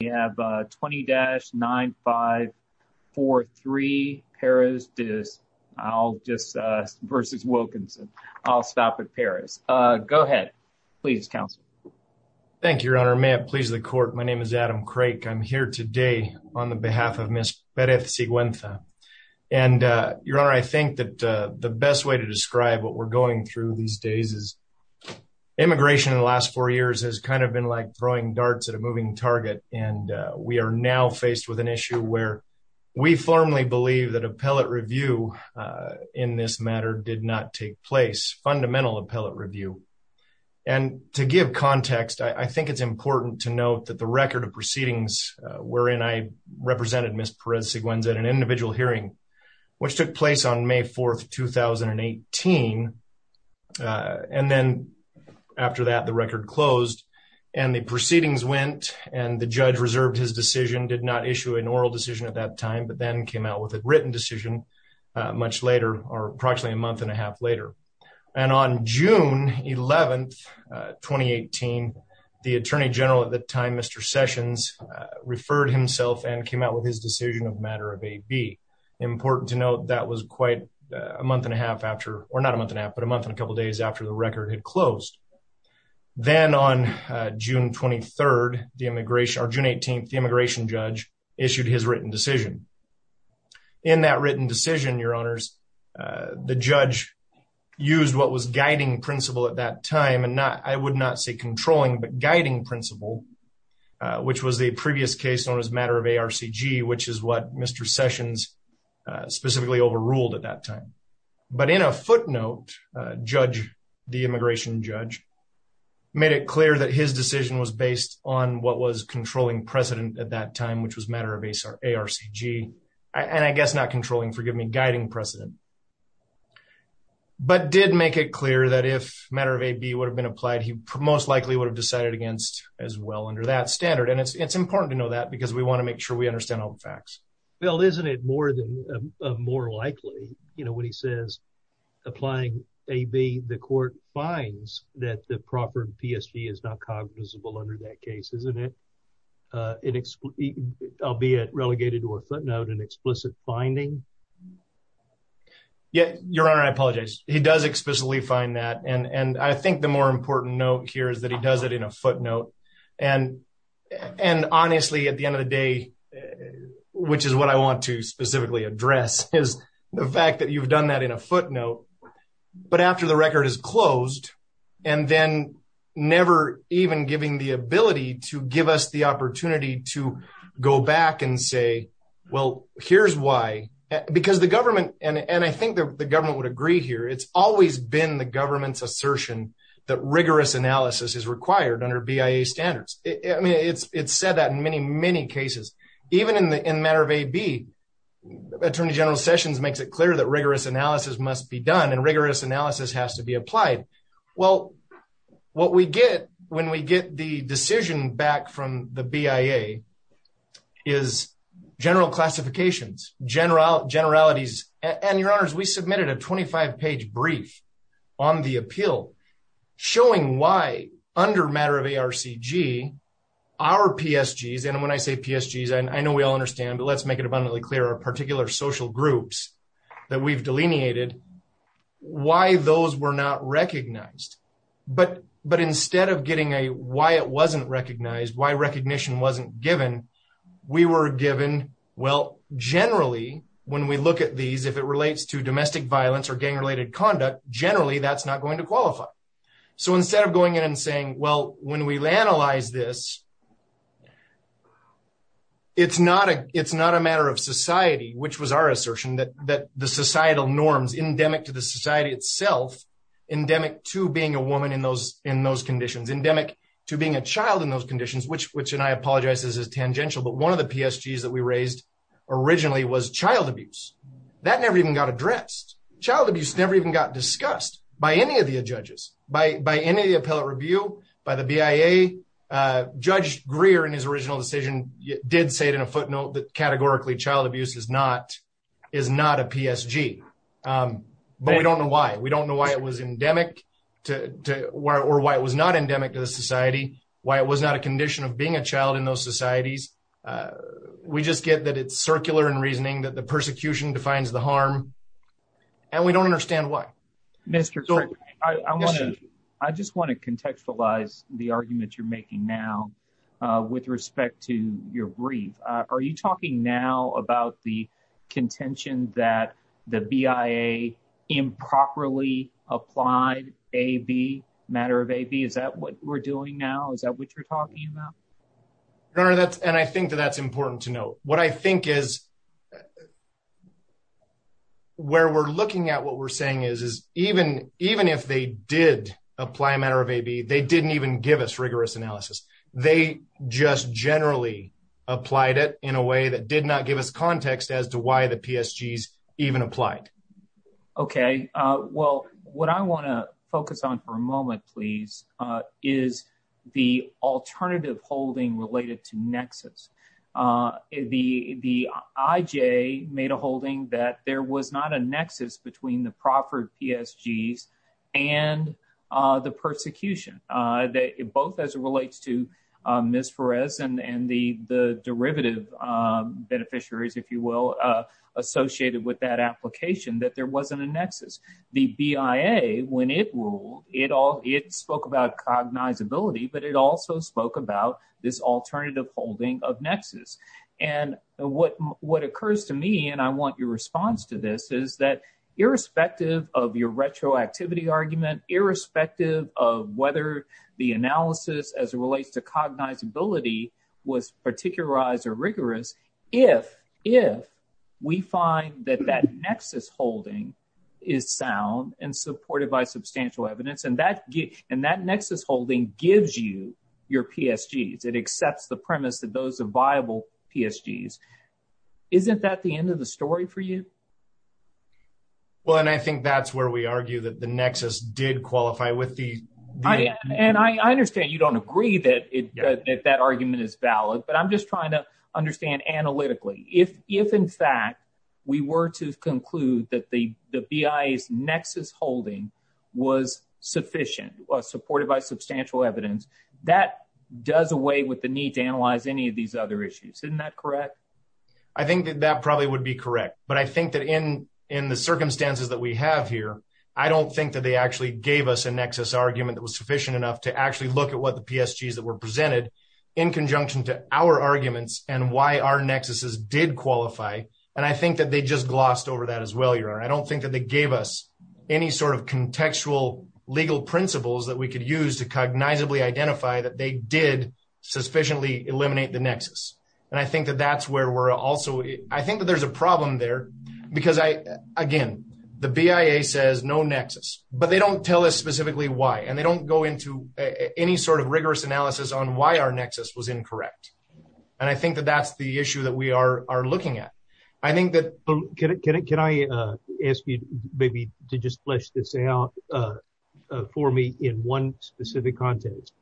We have 20-9543 Pérez versus Wilkinson. I'll stop at Pérez. Go ahead. Please, Counselor. Thank you, Your Honor. May it please the Court. My name is Adam Craik. I'm here today on the behalf of Ms. Pérez de Siguenza. And Your Honor, I think that the best way to describe what we're going through these days is immigration in the last four years has kind of been like throwing darts at a And we are now faced with an issue where we firmly believe that appellate review in this matter did not take place, fundamental appellate review. And to give context, I think it's important to note that the record of proceedings wherein I represented Ms. Pérez de Siguenza at an individual hearing, which took place on May 4th, 2018. And then after that, the record closed and the proceedings went and the judge reserved his decision, did not issue an oral decision at that time, but then came out with a written decision much later or approximately a month and a half later. And on June 11th, 2018, the Attorney General at the time, Mr. Sessions, referred himself and came out with his decision of matter of AB. Important to note that was quite a month and a half after, or not a month and a half, but a month and a couple of days after the record had closed. Then on June 23rd, the immigration or June 18th, the immigration judge issued his written decision. In that written decision, Your Honors, the judge used what was guiding principle at that time and not, I would not say controlling, but guiding principle, which was the specifically overruled at that time. But in a footnote, the immigration judge made it clear that his decision was based on what was controlling precedent at that time, which was matter of ARCG, and I guess not controlling, forgive me, guiding precedent. But did make it clear that if matter of AB would have been applied, he most likely would have decided against as well under that standard. And it's important to know that because we want to make sure we understand all the more likely, you know, when he says applying AB, the court finds that the proper PSG is not cognizable under that case, isn't it? Albeit relegated to a footnote, an explicit finding. Yet, Your Honor, I apologize. He does explicitly find that. And I think the more important note here is that he does it in a footnote. And honestly, at the end of the day, which is what I want to specifically address is the fact that you've done that in a footnote, but after the record is closed and then never even giving the ability to give us the opportunity to go back and say, well, here's why, because the government, and I think the government would agree here, it's always been the government's assertion that rigorous analysis is required under BIA standards. I mean, it's said that in many, many cases, even in the matter of AB, Attorney General Sessions makes it clear that rigorous analysis must be done and rigorous analysis has to be applied. Well, what we get when we get the decision back from the BIA is general classifications, generalities. And Your Honors, we submitted a 25 page brief on the appeal showing why under matter of ARCG, our PSGs, and when I say PSGs, and I know we all understand, but let's make it abundantly clear, our particular social groups that we've delineated, why those were not recognized. But instead of getting a why it wasn't recognized, why recognition wasn't given, we were given, well, generally, when we look at these, if it relates to domestic violence or gang related conduct, generally, that's not going to qualify. So instead of going in and saying, well, when we analyze this, it's not a it's not a matter of society, which was our assertion that that the societal norms endemic to the society itself, endemic to being a woman in those in those conditions, endemic to being a woman in those conditions is tangential. But one of the PSGs that we raised originally was child abuse that never even got addressed. Child abuse never even got discussed by any of the judges, by by any of the appellate review, by the BIA. Judge Greer, in his original decision, did say it in a footnote that categorically child abuse is not is not a PSG, but we don't know why. We don't know why it was endemic to or why it was not endemic to the society, why it was not a condition of being a child in those societies. We just get that it's circular in reasoning that the persecution defines the harm. And we don't understand why, Mr. I want to I just want to contextualize the argument you're making now with respect to your brief. Are you talking now about the contention that the BIA improperly applied a B matter of a B? Is that what we're doing now? Is that what you're talking about? No, that's and I think that that's important to know what I think is. Where we're looking at what we're saying is, is even even if they did apply a matter of a B, they didn't even give us rigorous analysis, they just generally applied it in a way that did not give us context as to why the PSGs even applied. OK, well, what I want to focus on for a moment, please, is the alternative holding related to nexus, the the IJ made a holding that there was not a nexus between the proffered PSGs and the persecution, both as it relates to Ms. Perez and the the derivative beneficiaries, if you will, associated with that application that there wasn't a nexus. The BIA, when it ruled it all, it spoke about cognizability, but it also spoke about this alternative holding of nexus. And what what occurs to me and I want your response to this is that irrespective of your retroactivity argument, irrespective of whether the analysis as it relates to cognizability was particularized or rigorous, if if we find that that nexus holding is sound and supported by substantial evidence and that and that nexus holding gives you your PSGs, it accepts the premise that those are viable PSGs. Isn't that the end of the story for you? Well, and I think that's where we argue that the nexus did qualify with the and I that argument is valid, but I'm just trying to understand analytically if if in fact we were to conclude that the the BIA's nexus holding was sufficient, was supported by substantial evidence, that does away with the need to analyze any of these other issues. Isn't that correct? I think that that probably would be correct. But I think that in in the circumstances that we have here, I don't think that they actually gave us a nexus argument that was sufficient enough to actually look at what the PSGs that were presented in conjunction to our arguments and why our nexuses did qualify. And I think that they just glossed over that as well. I don't think that they gave us any sort of contextual legal principles that we could use to cognizably identify that they did sufficiently eliminate the nexus. And I think that that's where we're also I think that there's a problem there because I again, the BIA says no nexus, but they don't tell us specifically why. And they don't go into any sort of rigorous analysis on why our nexus was incorrect. And I think that that's the issue that we are looking at. I think that. Can I ask you maybe to just flesh this out for me in one specific context?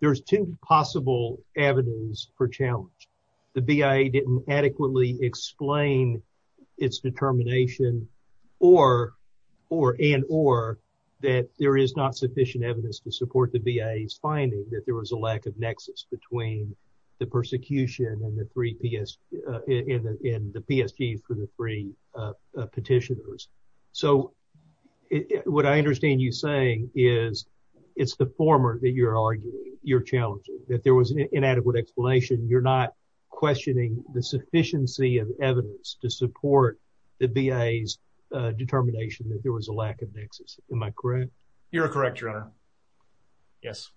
There's two possible avenues for challenge. The BIA didn't adequately explain its determination or or and or that there is not sufficient evidence to support the BIA's finding that there was a lack of nexus between the persecution and the three PSG and the PSG for the three petitioners. So what I understand you saying is it's the former that you're arguing, you're challenging, that there was an inadequate explanation. You're not questioning the sufficiency of evidence to support the BIA's determination that there was a lack of nexus. Am I correct? You're correct, your honor. Yes,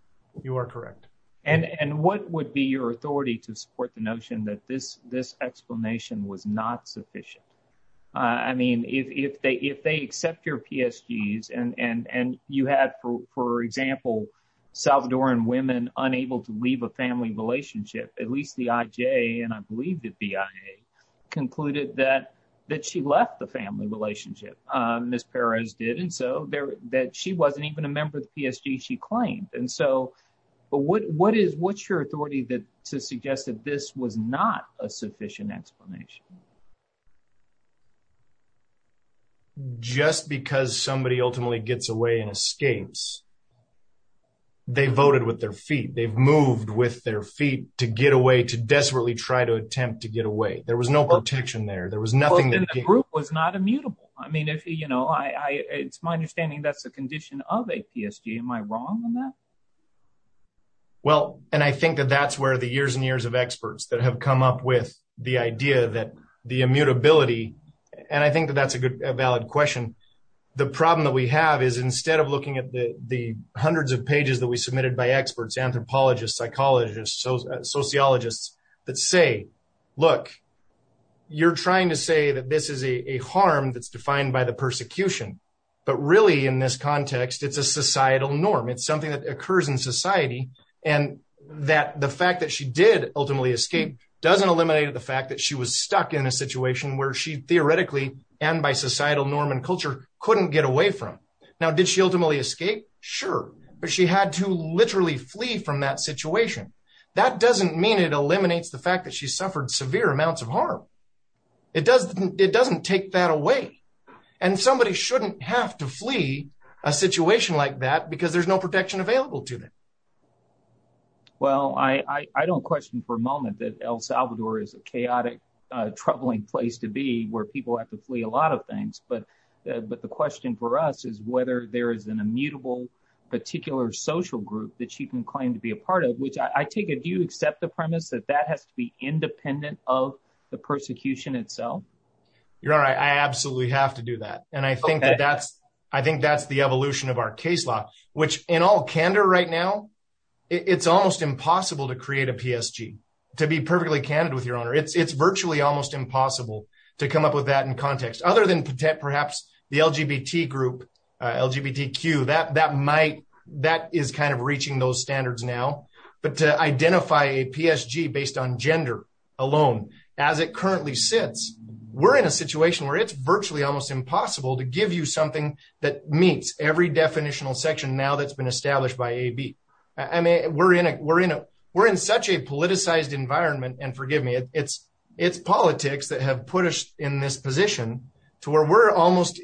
you are correct. And what would be your authority to support the notion that this this explanation was not sufficient? I mean, if they if they accept your PSGs and you had, for example, Salvadoran women unable to leave a family relationship, at least the IJ and I believe the BIA concluded that that she left the family relationship. Ms. Perez did. And so that she wasn't even a member of the PSG she claimed. And so but what what is what's your authority that to suggest that this was not a sufficient explanation? Just because somebody ultimately gets away and escapes. They voted with their feet, they've moved with their feet to get away, to desperately try to attempt to get away, there was no protection there, there was nothing that group was not immutable. I mean, if you know, I it's my understanding that's a condition of a PSG. Am I wrong on that? Well, and I think that that's where the years and years of experts that have come up with the idea that the immutability and I think that that's a valid question. The problem that we have is instead of looking at the hundreds of pages that we submitted by experts, anthropologists, psychologists, sociologists that say, look, you're trying to say that this is a harm that's defined by the persecution. But really, in this context, it's a societal norm. It's something that occurs in society. And that the fact that she did ultimately escape doesn't eliminate the fact that she was stuck in a situation where she theoretically and by societal norm and culture couldn't get away from. Now, did she ultimately escape? Sure. But she had to literally flee from that situation. That doesn't mean it eliminates the fact that she suffered severe amounts of harm. It doesn't it doesn't take that away. And somebody shouldn't have to flee a situation like that because there's no protection available to them. Well, I don't question for a moment that El Salvador is a chaotic, troubling place to be where people have to flee a lot of things. But but the question for us is whether there is an immutable particular social group that she can claim to be a part of, which I take it. You accept the premise that that has to be independent of the persecution itself. You're right. I absolutely have to do that. And I think that's I think that's the evolution of our case law, which in all candor right now, it's almost impossible to create a PSG to be perfectly candid with your honor. It's virtually almost impossible to come up with that in context other than perhaps the LGBT group, LGBTQ, that that might that is kind of reaching those standards now. But to identify a PSG based on gender alone as it currently sits, we're in a situation where it's virtually almost impossible to give you something that meets every definitional section now that's been established by AB. I mean, we're in a we're in a we're in such a politicized environment. And forgive me, it's it's politics that have put us in this position to where we're almost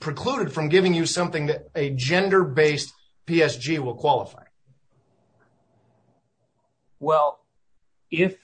precluded from giving you something that a gender based PSG will qualify. Well, if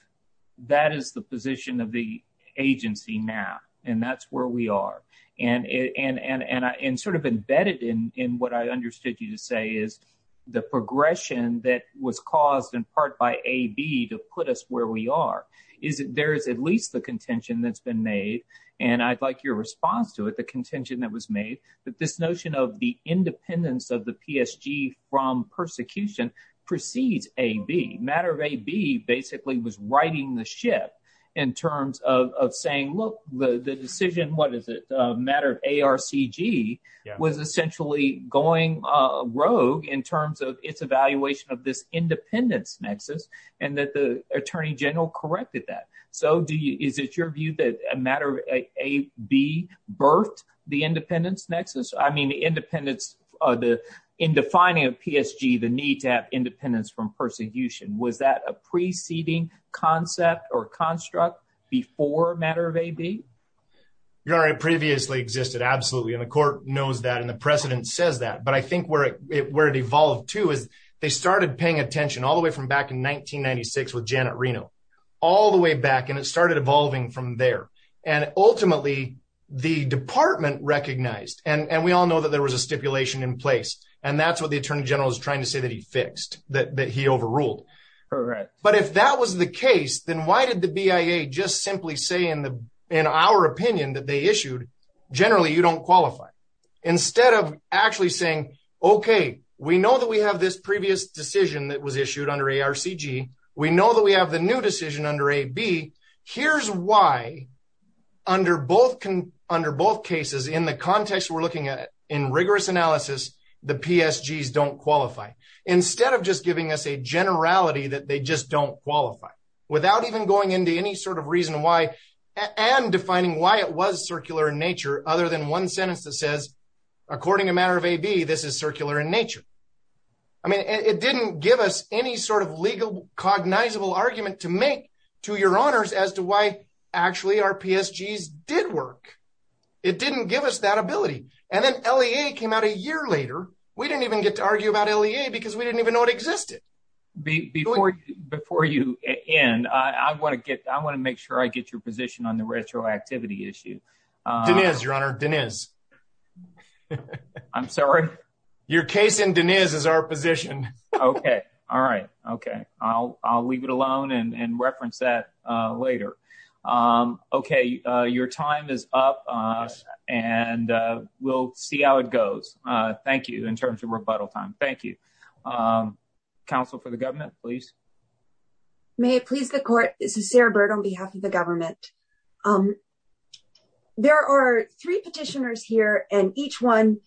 that is the position of the agency now and that's where we are and and and and sort of embedded in what I understood you to say is the progression that was caused in part by AB to put us where we are is that there is at least the contention that's been made. And I'd like your response to it. The contention that was made that this notion of the independence of the PSG from persecution precedes AB. Matter of AB basically was righting the ship in terms of saying, look, the decision. What is it? Matter of ARCG was essentially going rogue in terms of its evaluation of this independence nexus and that the attorney general corrected that. So is it your view that a matter of AB birthed the independence nexus? I mean, the independence of the in defining a PSG, the need to have independence from persecution. Was that a preceding concept or construct before a matter of AB? Your Honor, it previously existed. Absolutely. And the court knows that and the precedent says that. But I think where it where it evolved, too, is they started paying attention all the way from back in 1996 with Janet Reno all the way back. And it started evolving from there. And ultimately, the department recognized and we all know that there was a stipulation in place. And that's what the attorney general is trying to say, that he fixed that he overruled. But if that was the case, then why did the BIA just simply say in the in our opinion that they issued generally you don't qualify instead of actually saying, OK, we know that we have this previous decision that was issued under ARCG. We know that we have the new decision under AB. Here's why under both under both cases in the context we're looking at in rigorous analysis, the PSGs don't qualify instead of just giving us a generality that they just don't qualify without even going into any sort of reason why and defining why it was circular in nature other than one sentence that says, according to a matter of AB, this is circular in nature. I mean, it didn't give us any sort of legal cognizable argument to make to your honors as to why actually our PSGs did work. It didn't give us that ability. And then L.A. came out a year later. We didn't even get to argue about L.A. because we didn't even know it existed. Before before you end, I want to get I want to make sure I get your position on the retroactivity issue. Deniz, your honor, Deniz, I'm sorry. Your case in Deniz is our position. OK. All right. OK, I'll I'll leave it alone and reference that later. OK, your time is up and we'll see how it goes. Thank you. In terms of rebuttal time. Thank you. Counsel for the government, please. May it please the court, this is Sarah Bird on behalf of the government. There are three petitioners here and each one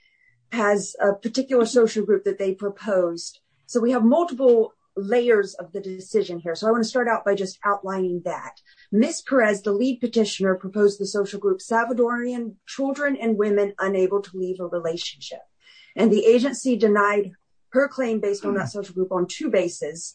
has a particular social group that they proposed. So we have multiple layers of the decision here. So I want to start out by just outlining that. Ms. Perez, the lead petitioner, proposed the social group Salvadorian Children and Women Unable to Leave a Relationship. And the agency denied her claim based on that social group on two bases.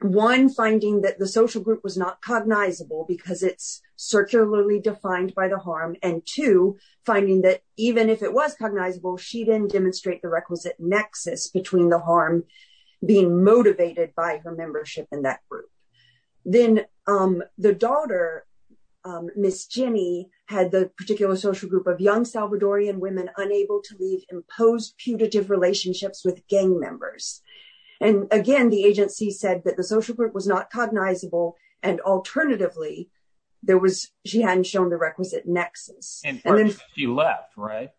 One, finding that the social group was not cognizable because it's circularly defined by the harm. And two, finding that even if it was cognizable, she didn't demonstrate the requisite nexus between the harm being motivated by her membership in that group. Then the daughter, Miss Jenny, had the particular social group of young Salvadorian women unable to leave imposed putative relationships with gang members. And again, the agency said that the social group was not cognizable. And alternatively, there was she hadn't shown the requisite nexus. And then she left, right?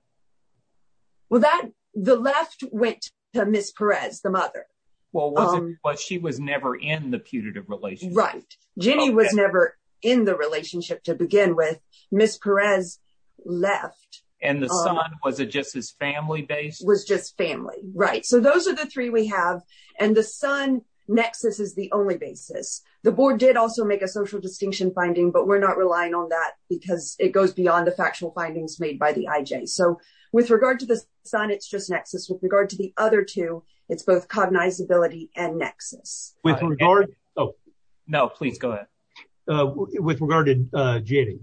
Well, that the left went to Ms. Perez, the mother. Well, she was never in the putative relationship. Right. Jenny was never in the relationship to begin with. Ms. Perez left. And the son, was it just his family base? Was just family. Right. So those are the three we have. And the son nexus is the only basis. The board did also make a social distinction finding, but we're not relying on that because it goes beyond the factual findings made by the IJ. So with regard to the son, it's just nexus. With regard to the other two, it's both cognizability and nexus. With regard. Oh, no, please go ahead. With regard to Jenny,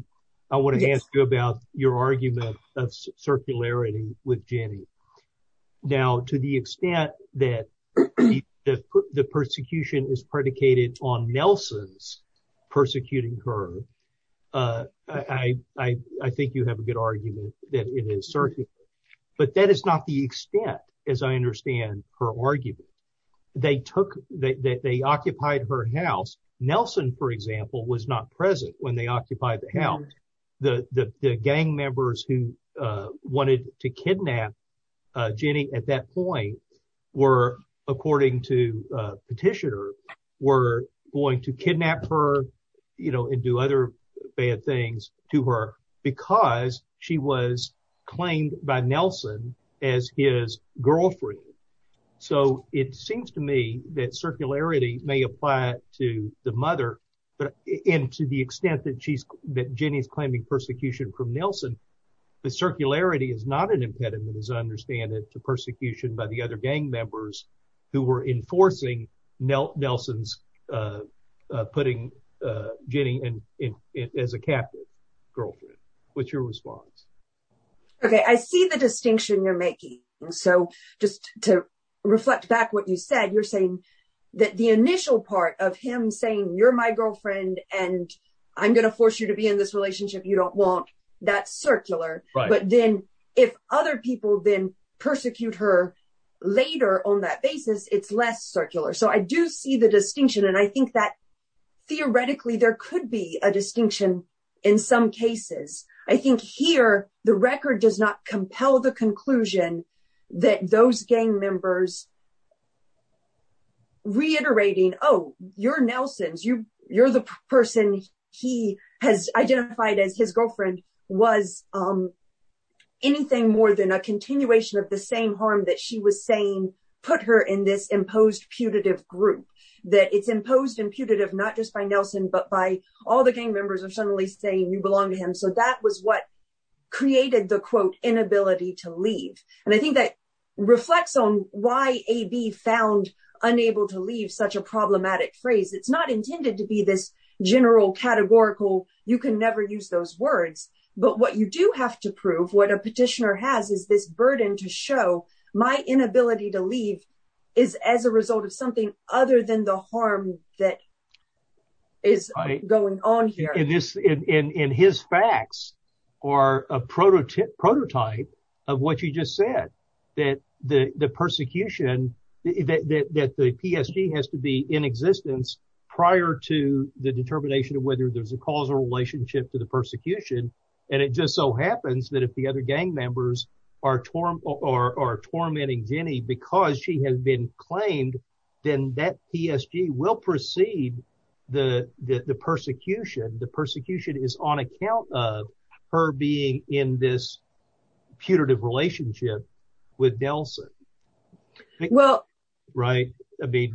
I want to ask you about your argument of circularity with Jenny. Now, to the extent that the persecution is predicated on Nelson's persecuting her, I think you have a good argument that it is circular. But that is not the extent, as I understand her argument. They took that they occupied her house. Nelson, for example, was not present when they occupied the house. The gang members who wanted to kidnap Jenny at that point were, according to Petitioner, were going to kidnap her, you know, and do other bad things to her because she was claimed by Nelson as his girlfriend. So it seems to me that circularity may apply to the mother. But to the extent that Jenny is claiming persecution from Nelson, the circularity is not an impediment, as I understand it, to persecution by the other gang members who were enforcing Nelson's putting Jenny in as a captive girlfriend. What's your response? OK, I see the distinction you're making. So just to reflect back what you said, you're saying that the initial part of him saying you're my girlfriend and I'm going to force you to be in this relationship you don't want, that's circular. But then if other people then persecute her later on that basis, it's less circular. So I do see the distinction. And I think that theoretically there could be a distinction in some cases. I think here the record does not compel the conclusion that those gang members reiterating, oh, you're Nelson's, you're the person he has identified as his girlfriend was anything more than a continuation of the same harm that she was saying put her in this imposed putative group, that it's imposed and putative, not just by Nelson, but by all the gang members are suddenly saying you belong to him. So that was what created the, quote, inability to leave. And I think that reflects on why A.B. found unable to leave such a problematic phrase. It's not intended to be this general categorical. You can never use those words. But what you do have to prove, what a petitioner has is this burden to show my inability to leave is as a result of something other than the harm that is going on here. And his facts are a prototype of what you just said, that the persecution, that the PSG has to be in existence prior to the determination of whether there's a causal relationship to the persecution. And it just so happens that if the other gang members are tormenting Jenny because she has been claimed, then that PSG will proceed the persecution. The persecution is on account of her being in this putative relationship with Nelson. Well, right.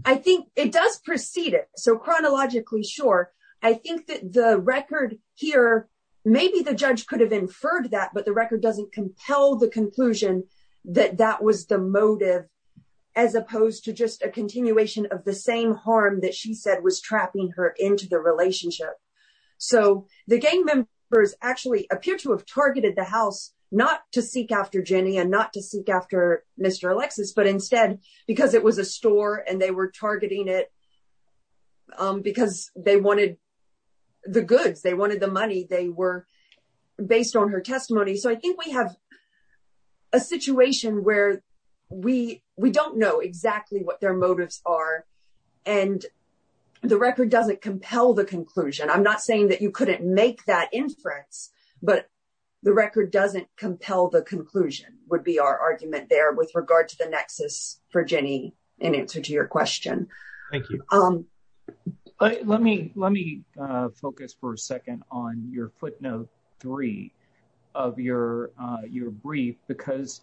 I think it does precede it. So chronologically short, I think that the record here, maybe the judge could have inferred that, but the record doesn't compel the conclusion that that was the motive as opposed to just a continuation of the same harm that she said was trapping her into the relationship. So the gang members actually appear to have targeted the house not to seek after Jenny and not to seek after Mr. Alexis, but instead because it was a store and they were targeting it because they wanted the goods, they wanted the money. They were based on her testimony. So I think we have a situation where we don't know exactly what their motives are and the record doesn't compel the conclusion. I'm not saying that you couldn't make that inference, but the record doesn't compel the conclusion would be our argument there with regard to the nexus for Jenny in answer to your question. Thank you. Let me let me focus for a second on your footnote three of your your brief, because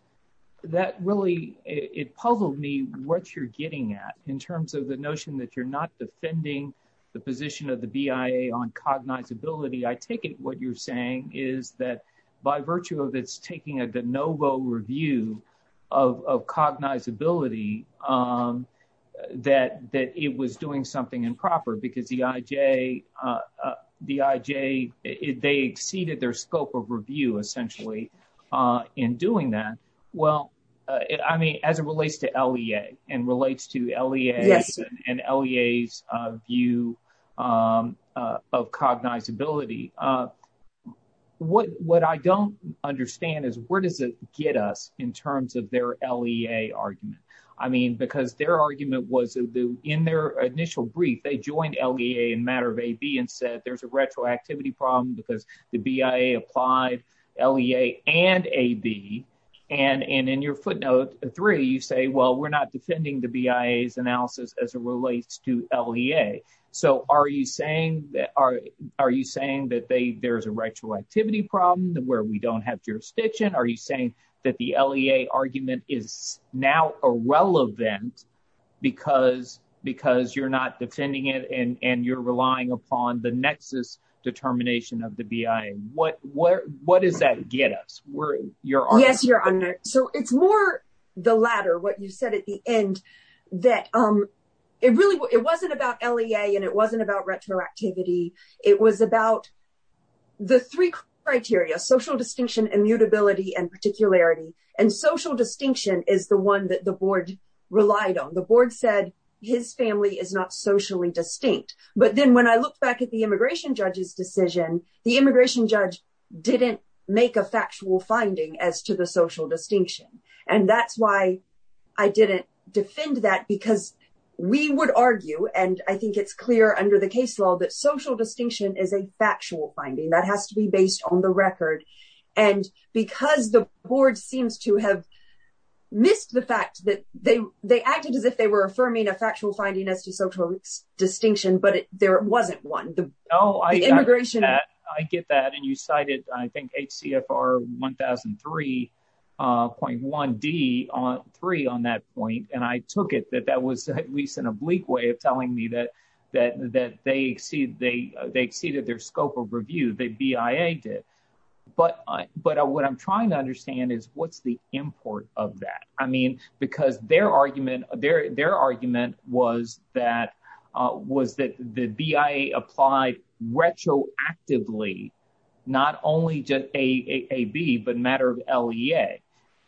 that really it puzzled me what you're getting at in terms of the notion that you're not defending the position of the BIA on cognizability. I take it what you're saying is that by virtue of its taking a de novo review of cognizability, that that it was doing something improper because the IJ, the IJ, they exceeded their scope of review essentially in doing that. Well, I mean, as it relates to LEA and relates to LEA and LEA's view of cognizability. What what I don't understand is where does it get us in terms of their LEA argument? I mean, because their argument was in their initial brief, they joined LEA in matter of AB and said there's a retroactivity problem because the BIA applied LEA and AB. And in your footnote three, you say, well, we're not defending the BIA's analysis as it relates to LEA. So are you saying that are are you saying that there's a retroactivity problem where we don't have jurisdiction? Are you saying that the LEA argument is now irrelevant because because you're not defending it and you're relying upon the nexus determination of the BIA? What what what does that get us? We're you're. Yes, your honor. So it's more the latter. What you said at the end that it really it wasn't about LEA and it wasn't about retroactivity. It was about the three criteria, social distinction, immutability and particularity. And social distinction is the one that the board relied on. The board said his family is not socially distinct. But then when I look back at the immigration judge's decision, the immigration judge didn't make a factual finding as to the social distinction. And that's why I didn't defend that, because we would argue and I think it's clear under the case law that social distinction is a factual finding that has to be based on the record. And because the board seems to have missed the fact that they they acted as if they were affirming a factual finding as to social distinction. But there wasn't one. Oh, I get that, I get that. And you cited, I think, HCFR one thousand three point one D on three on that point. And I took it that that was at least an oblique way of telling me that that that they see they they exceeded their scope of review. The BIA did. But but what I'm trying to understand is what's the import of that? I mean, because their argument, their their argument was that was that the BIA applied retroactively, not only just AAB, but matter of LEA.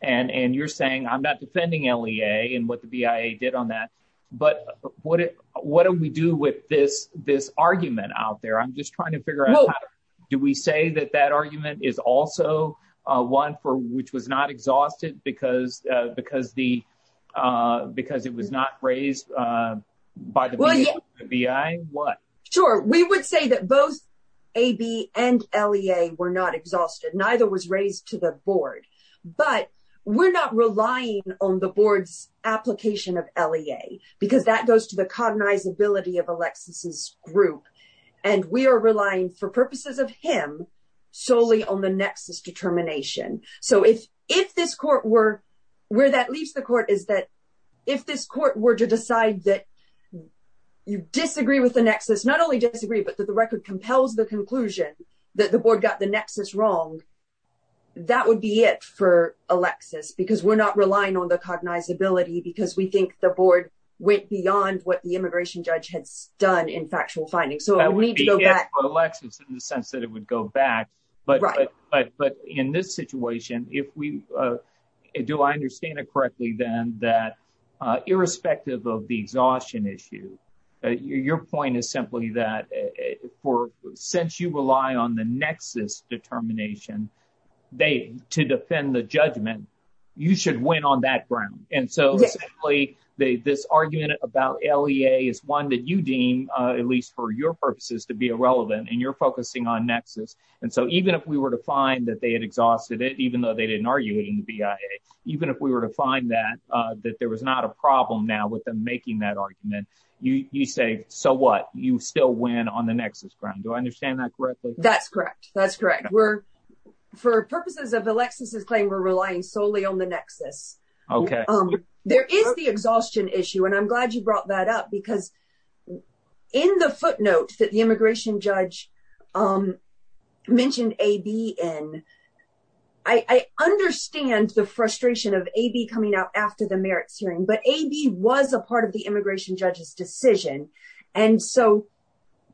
And and you're saying I'm not defending LEA and what the BIA did on that. But what what do we do with this this argument out there? I'm just trying to figure out, do we say that that argument is also one for which was not exhausted because because the because it was not raised by the BIA? What? Sure. We would say that both AAB and LEA were not exhausted. Neither was raised to the board. But we're not relying on the board's application of LEA because that goes to the cognizability of Alexis's group. And we are relying for purposes of him solely on the nexus determination. So if if this court were where that leaves the court, is that if this court were to decide that you disagree with the nexus, not only disagree, but that the record compels the conclusion that the board got the nexus wrong, that would be it for Alexis, because we're not relying on the cognizability because we think the board went beyond what the immigration judge had done in factual findings. So that would be it for Alexis in the sense that it would go back. But but but in this situation, if we do, I understand it correctly, then that irrespective of the exhaustion issue, your point is simply that for since you rely on the nexus determination, they to defend the judgment, you should win on that ground. And so simply this argument about LEA is one that you deem, at least for your purposes, to be irrelevant. And you're focusing on nexus. And so even if we were to find that they had exhausted it, even though they didn't arguing the BIA, even if we were to find that that there was not a problem now with them making that argument, you say so what you still win on the nexus ground. Do I understand that correctly? That's correct. That's correct. We're for purposes of Alexis's claim, we're relying solely on the nexus. OK, there is the exhaustion issue. And I'm glad you brought that up, because in the footnote that the immigration judge mentioned, A.B. and I understand the frustration of A.B. coming out after the merits hearing. But A.B. was a part of the immigration judge's decision. And so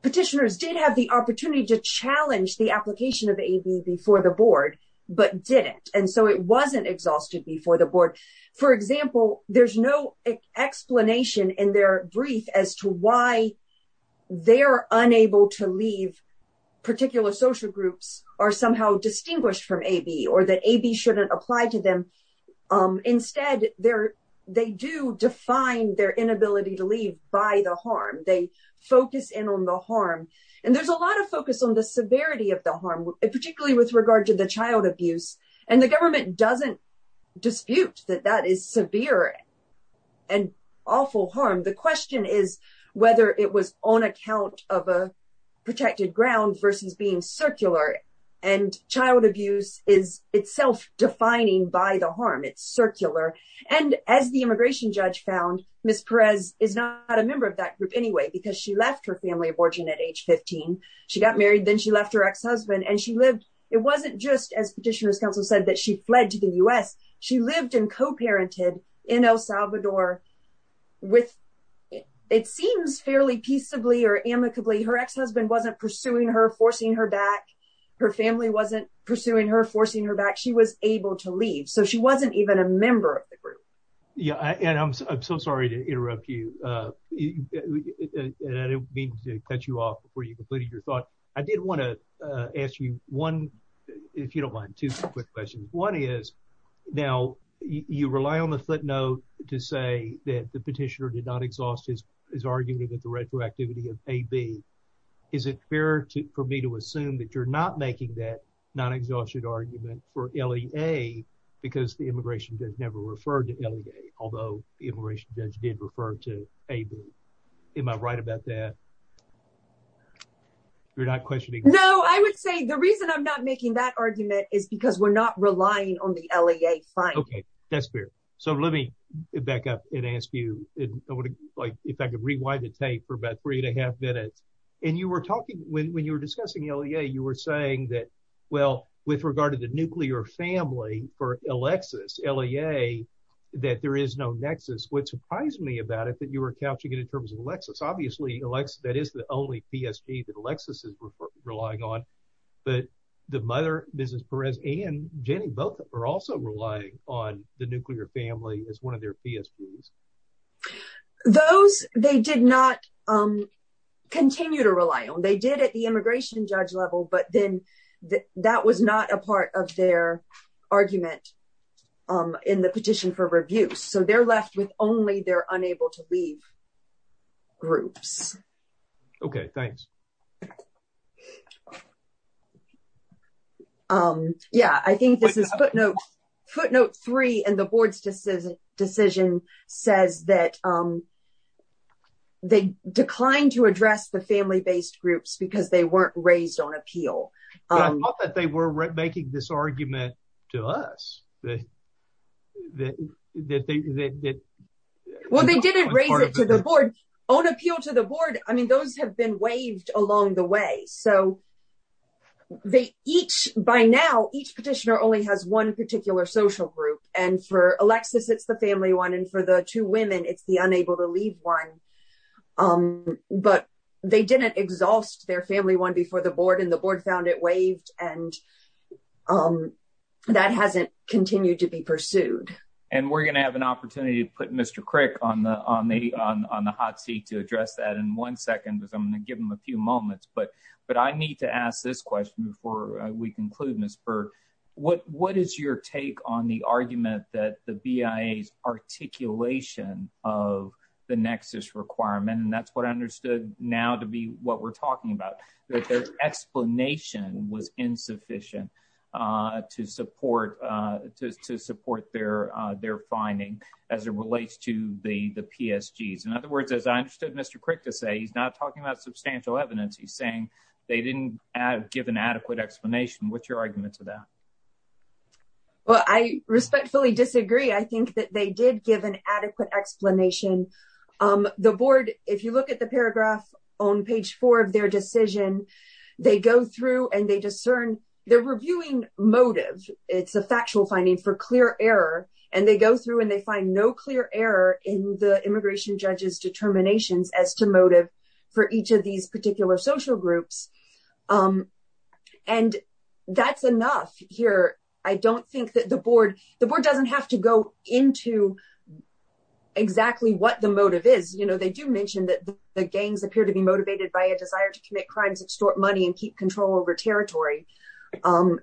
petitioners did have the opportunity to challenge the application of A.B. before the board, but didn't. And so it wasn't exhausted before the board. For example, there's no explanation in their brief as to why they are unable to leave particular social groups or somehow distinguished from A.B. or that A.B. shouldn't apply to them. Instead, they do define their inability to leave by the harm. They focus in on the harm. And there's a lot of focus on the severity of the harm, particularly with regard to the child abuse. And the government doesn't dispute that that is severe and awful harm. The question is whether it was on account of a protected ground versus being circular. And child abuse is itself defining by the harm. It's circular. And as the immigration judge found, Ms. She got married. Then she left her ex-husband and she lived. It wasn't just as petitioners counsel said that she fled to the U.S. She lived and co-parented in El Salvador with it seems fairly peaceably or amicably. Her ex-husband wasn't pursuing her, forcing her back. Her family wasn't pursuing her, forcing her back. She was able to leave. So she wasn't even a member of the group. Yeah. And I'm so sorry to interrupt you. And I didn't mean to cut you off before you completed your thought. I did want to ask you one, if you don't mind, two quick questions. One is now you rely on the footnote to say that the petitioner did not exhaust his argument of the retroactivity of AB. Is it fair for me to assume that you're not making that non-exhausted argument for LEA because the immigration judge never referred to LEA, although the immigration judge did refer to AB? Am I right about that? You're not questioning. No, I would say the reason I'm not making that argument is because we're not relying on the LEA finding. OK, that's fair. So let me back up and ask you if I could rewind the tape for about three and a half minutes. And you were talking when you were discussing LEA, you were saying that, well, with regard to the nuclear family for Alexis, LEA, that there is no nexus. What surprised me about it that you were catching it in terms of Alexis. Obviously, that is the only PSP that Alexis is relying on. But the mother, Mrs. Perez and Jenny, both are also relying on the nuclear family as one of their PSPs. Those they did not continue to rely on. They did at the immigration judge level. But then that was not a part of their argument in the petition for review. So they're left with only they're unable to leave. Groups. OK, thanks. Yeah, I think this is footnote footnote three and the board's decision says that they declined to address the family based groups because they weren't raised on appeal. I thought that they were making this argument to us that that that that that well, they didn't raise it to the board on appeal to the board. I mean, those have been waived along the way. So they each by now, each petitioner only has one particular social group. And for Alexis, it's the family one. And for the two women, it's the unable to leave one. But they didn't exhaust their family one before the board and the board found it and that hasn't continued to be pursued. And we're going to have an opportunity to put Mr. Crick on the on the on the hot seat to address that in one second. But I'm going to give him a few moments. But but I need to ask this question before we conclude, Miss Bird, what what is your take on the argument that the BIA's articulation of the nexus requirement? And that's what I understood now to be what we're talking about, the explanation was insufficient to support to support their their finding as it relates to the the PSG's. In other words, as I understood Mr. Crick to say, he's not talking about substantial evidence. He's saying they didn't give an adequate explanation. What's your argument to that? Well, I respectfully disagree. I think that they did give an adequate explanation. The board, if you look at the paragraph on page four of their decision, they go through and they discern they're reviewing motive. It's a factual finding for clear error. And they go through and they find no clear error in the immigration judge's determinations as to motive for each of these particular social groups. And that's enough here. I don't think that the board the board doesn't have to go into exactly what the motive is. They do mention that the gangs appear to be motivated by a desire to commit crimes, extort money and keep control over territory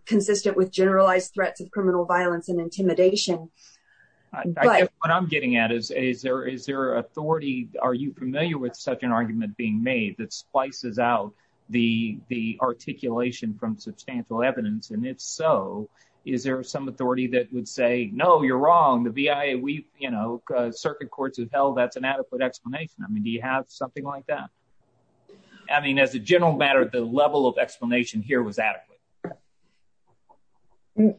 consistent with generalized threats of criminal violence and intimidation. What I'm getting at is, is there is there authority? Are you familiar with such an argument being made that splices out the the articulation from substantial evidence? And if so, is there some authority that would say, no, you're wrong? The V.I.A. we've, you know, circuit courts have held that's an adequate explanation. I mean, do you have something like that? I mean, as a general matter, the level of explanation here was adequate.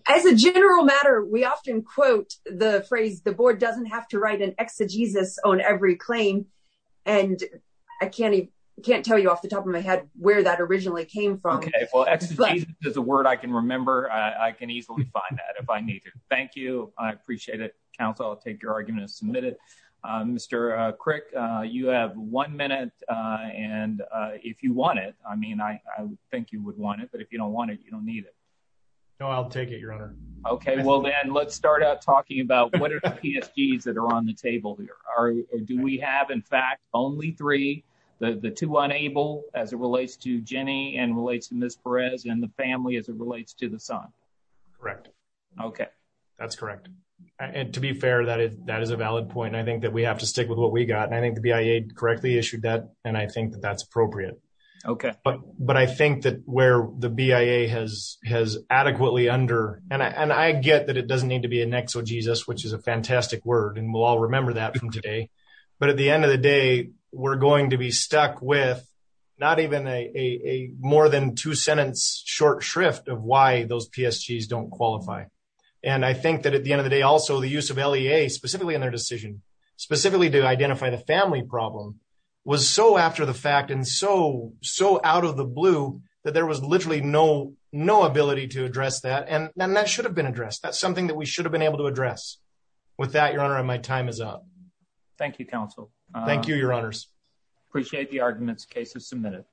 As a general matter, we often quote the phrase the board doesn't have to write an exegesis on every claim. And I can't I can't tell you off the top of my head where that originally came from. Well, exegesis is a word I can remember. I can easily find that if I need to. Thank you. I appreciate it. Counsel, I'll take your argument and submit it. Mr. Crick, you have one minute. And if you want it, I mean, I think you would want it. But if you don't want it, you don't need it. No, I'll take it, Your Honor. OK, well, then let's start out talking about what are the keys that are on the table here? Do we have, in fact, only three, the two unable as it relates to Jenny and relates to Miss Perez and the family as it relates to the son? Correct. OK, that's correct. And to be fair, that is a valid point. And I think that we have to stick with what we got. And I think the BIA correctly issued that. And I think that that's appropriate. OK, but but I think that where the BIA has has adequately under and I get that it doesn't need to be an exegesis, which is a fantastic word. And we'll all remember that from today. But at the end of the day, we're going to be stuck with not even a more than two sentence short shrift of why those PSGs don't qualify. And I think that at the end of the day, also the use of LEA specifically in their decision, specifically to identify the family problem, was so after the fact and so, so out of the blue that there was literally no no ability to address that. And then that should have been addressed. That's something that we should have been able to address with that. Your honor, my time is up. Thank you, counsel. Thank you, your honors. Appreciate the arguments cases submitted.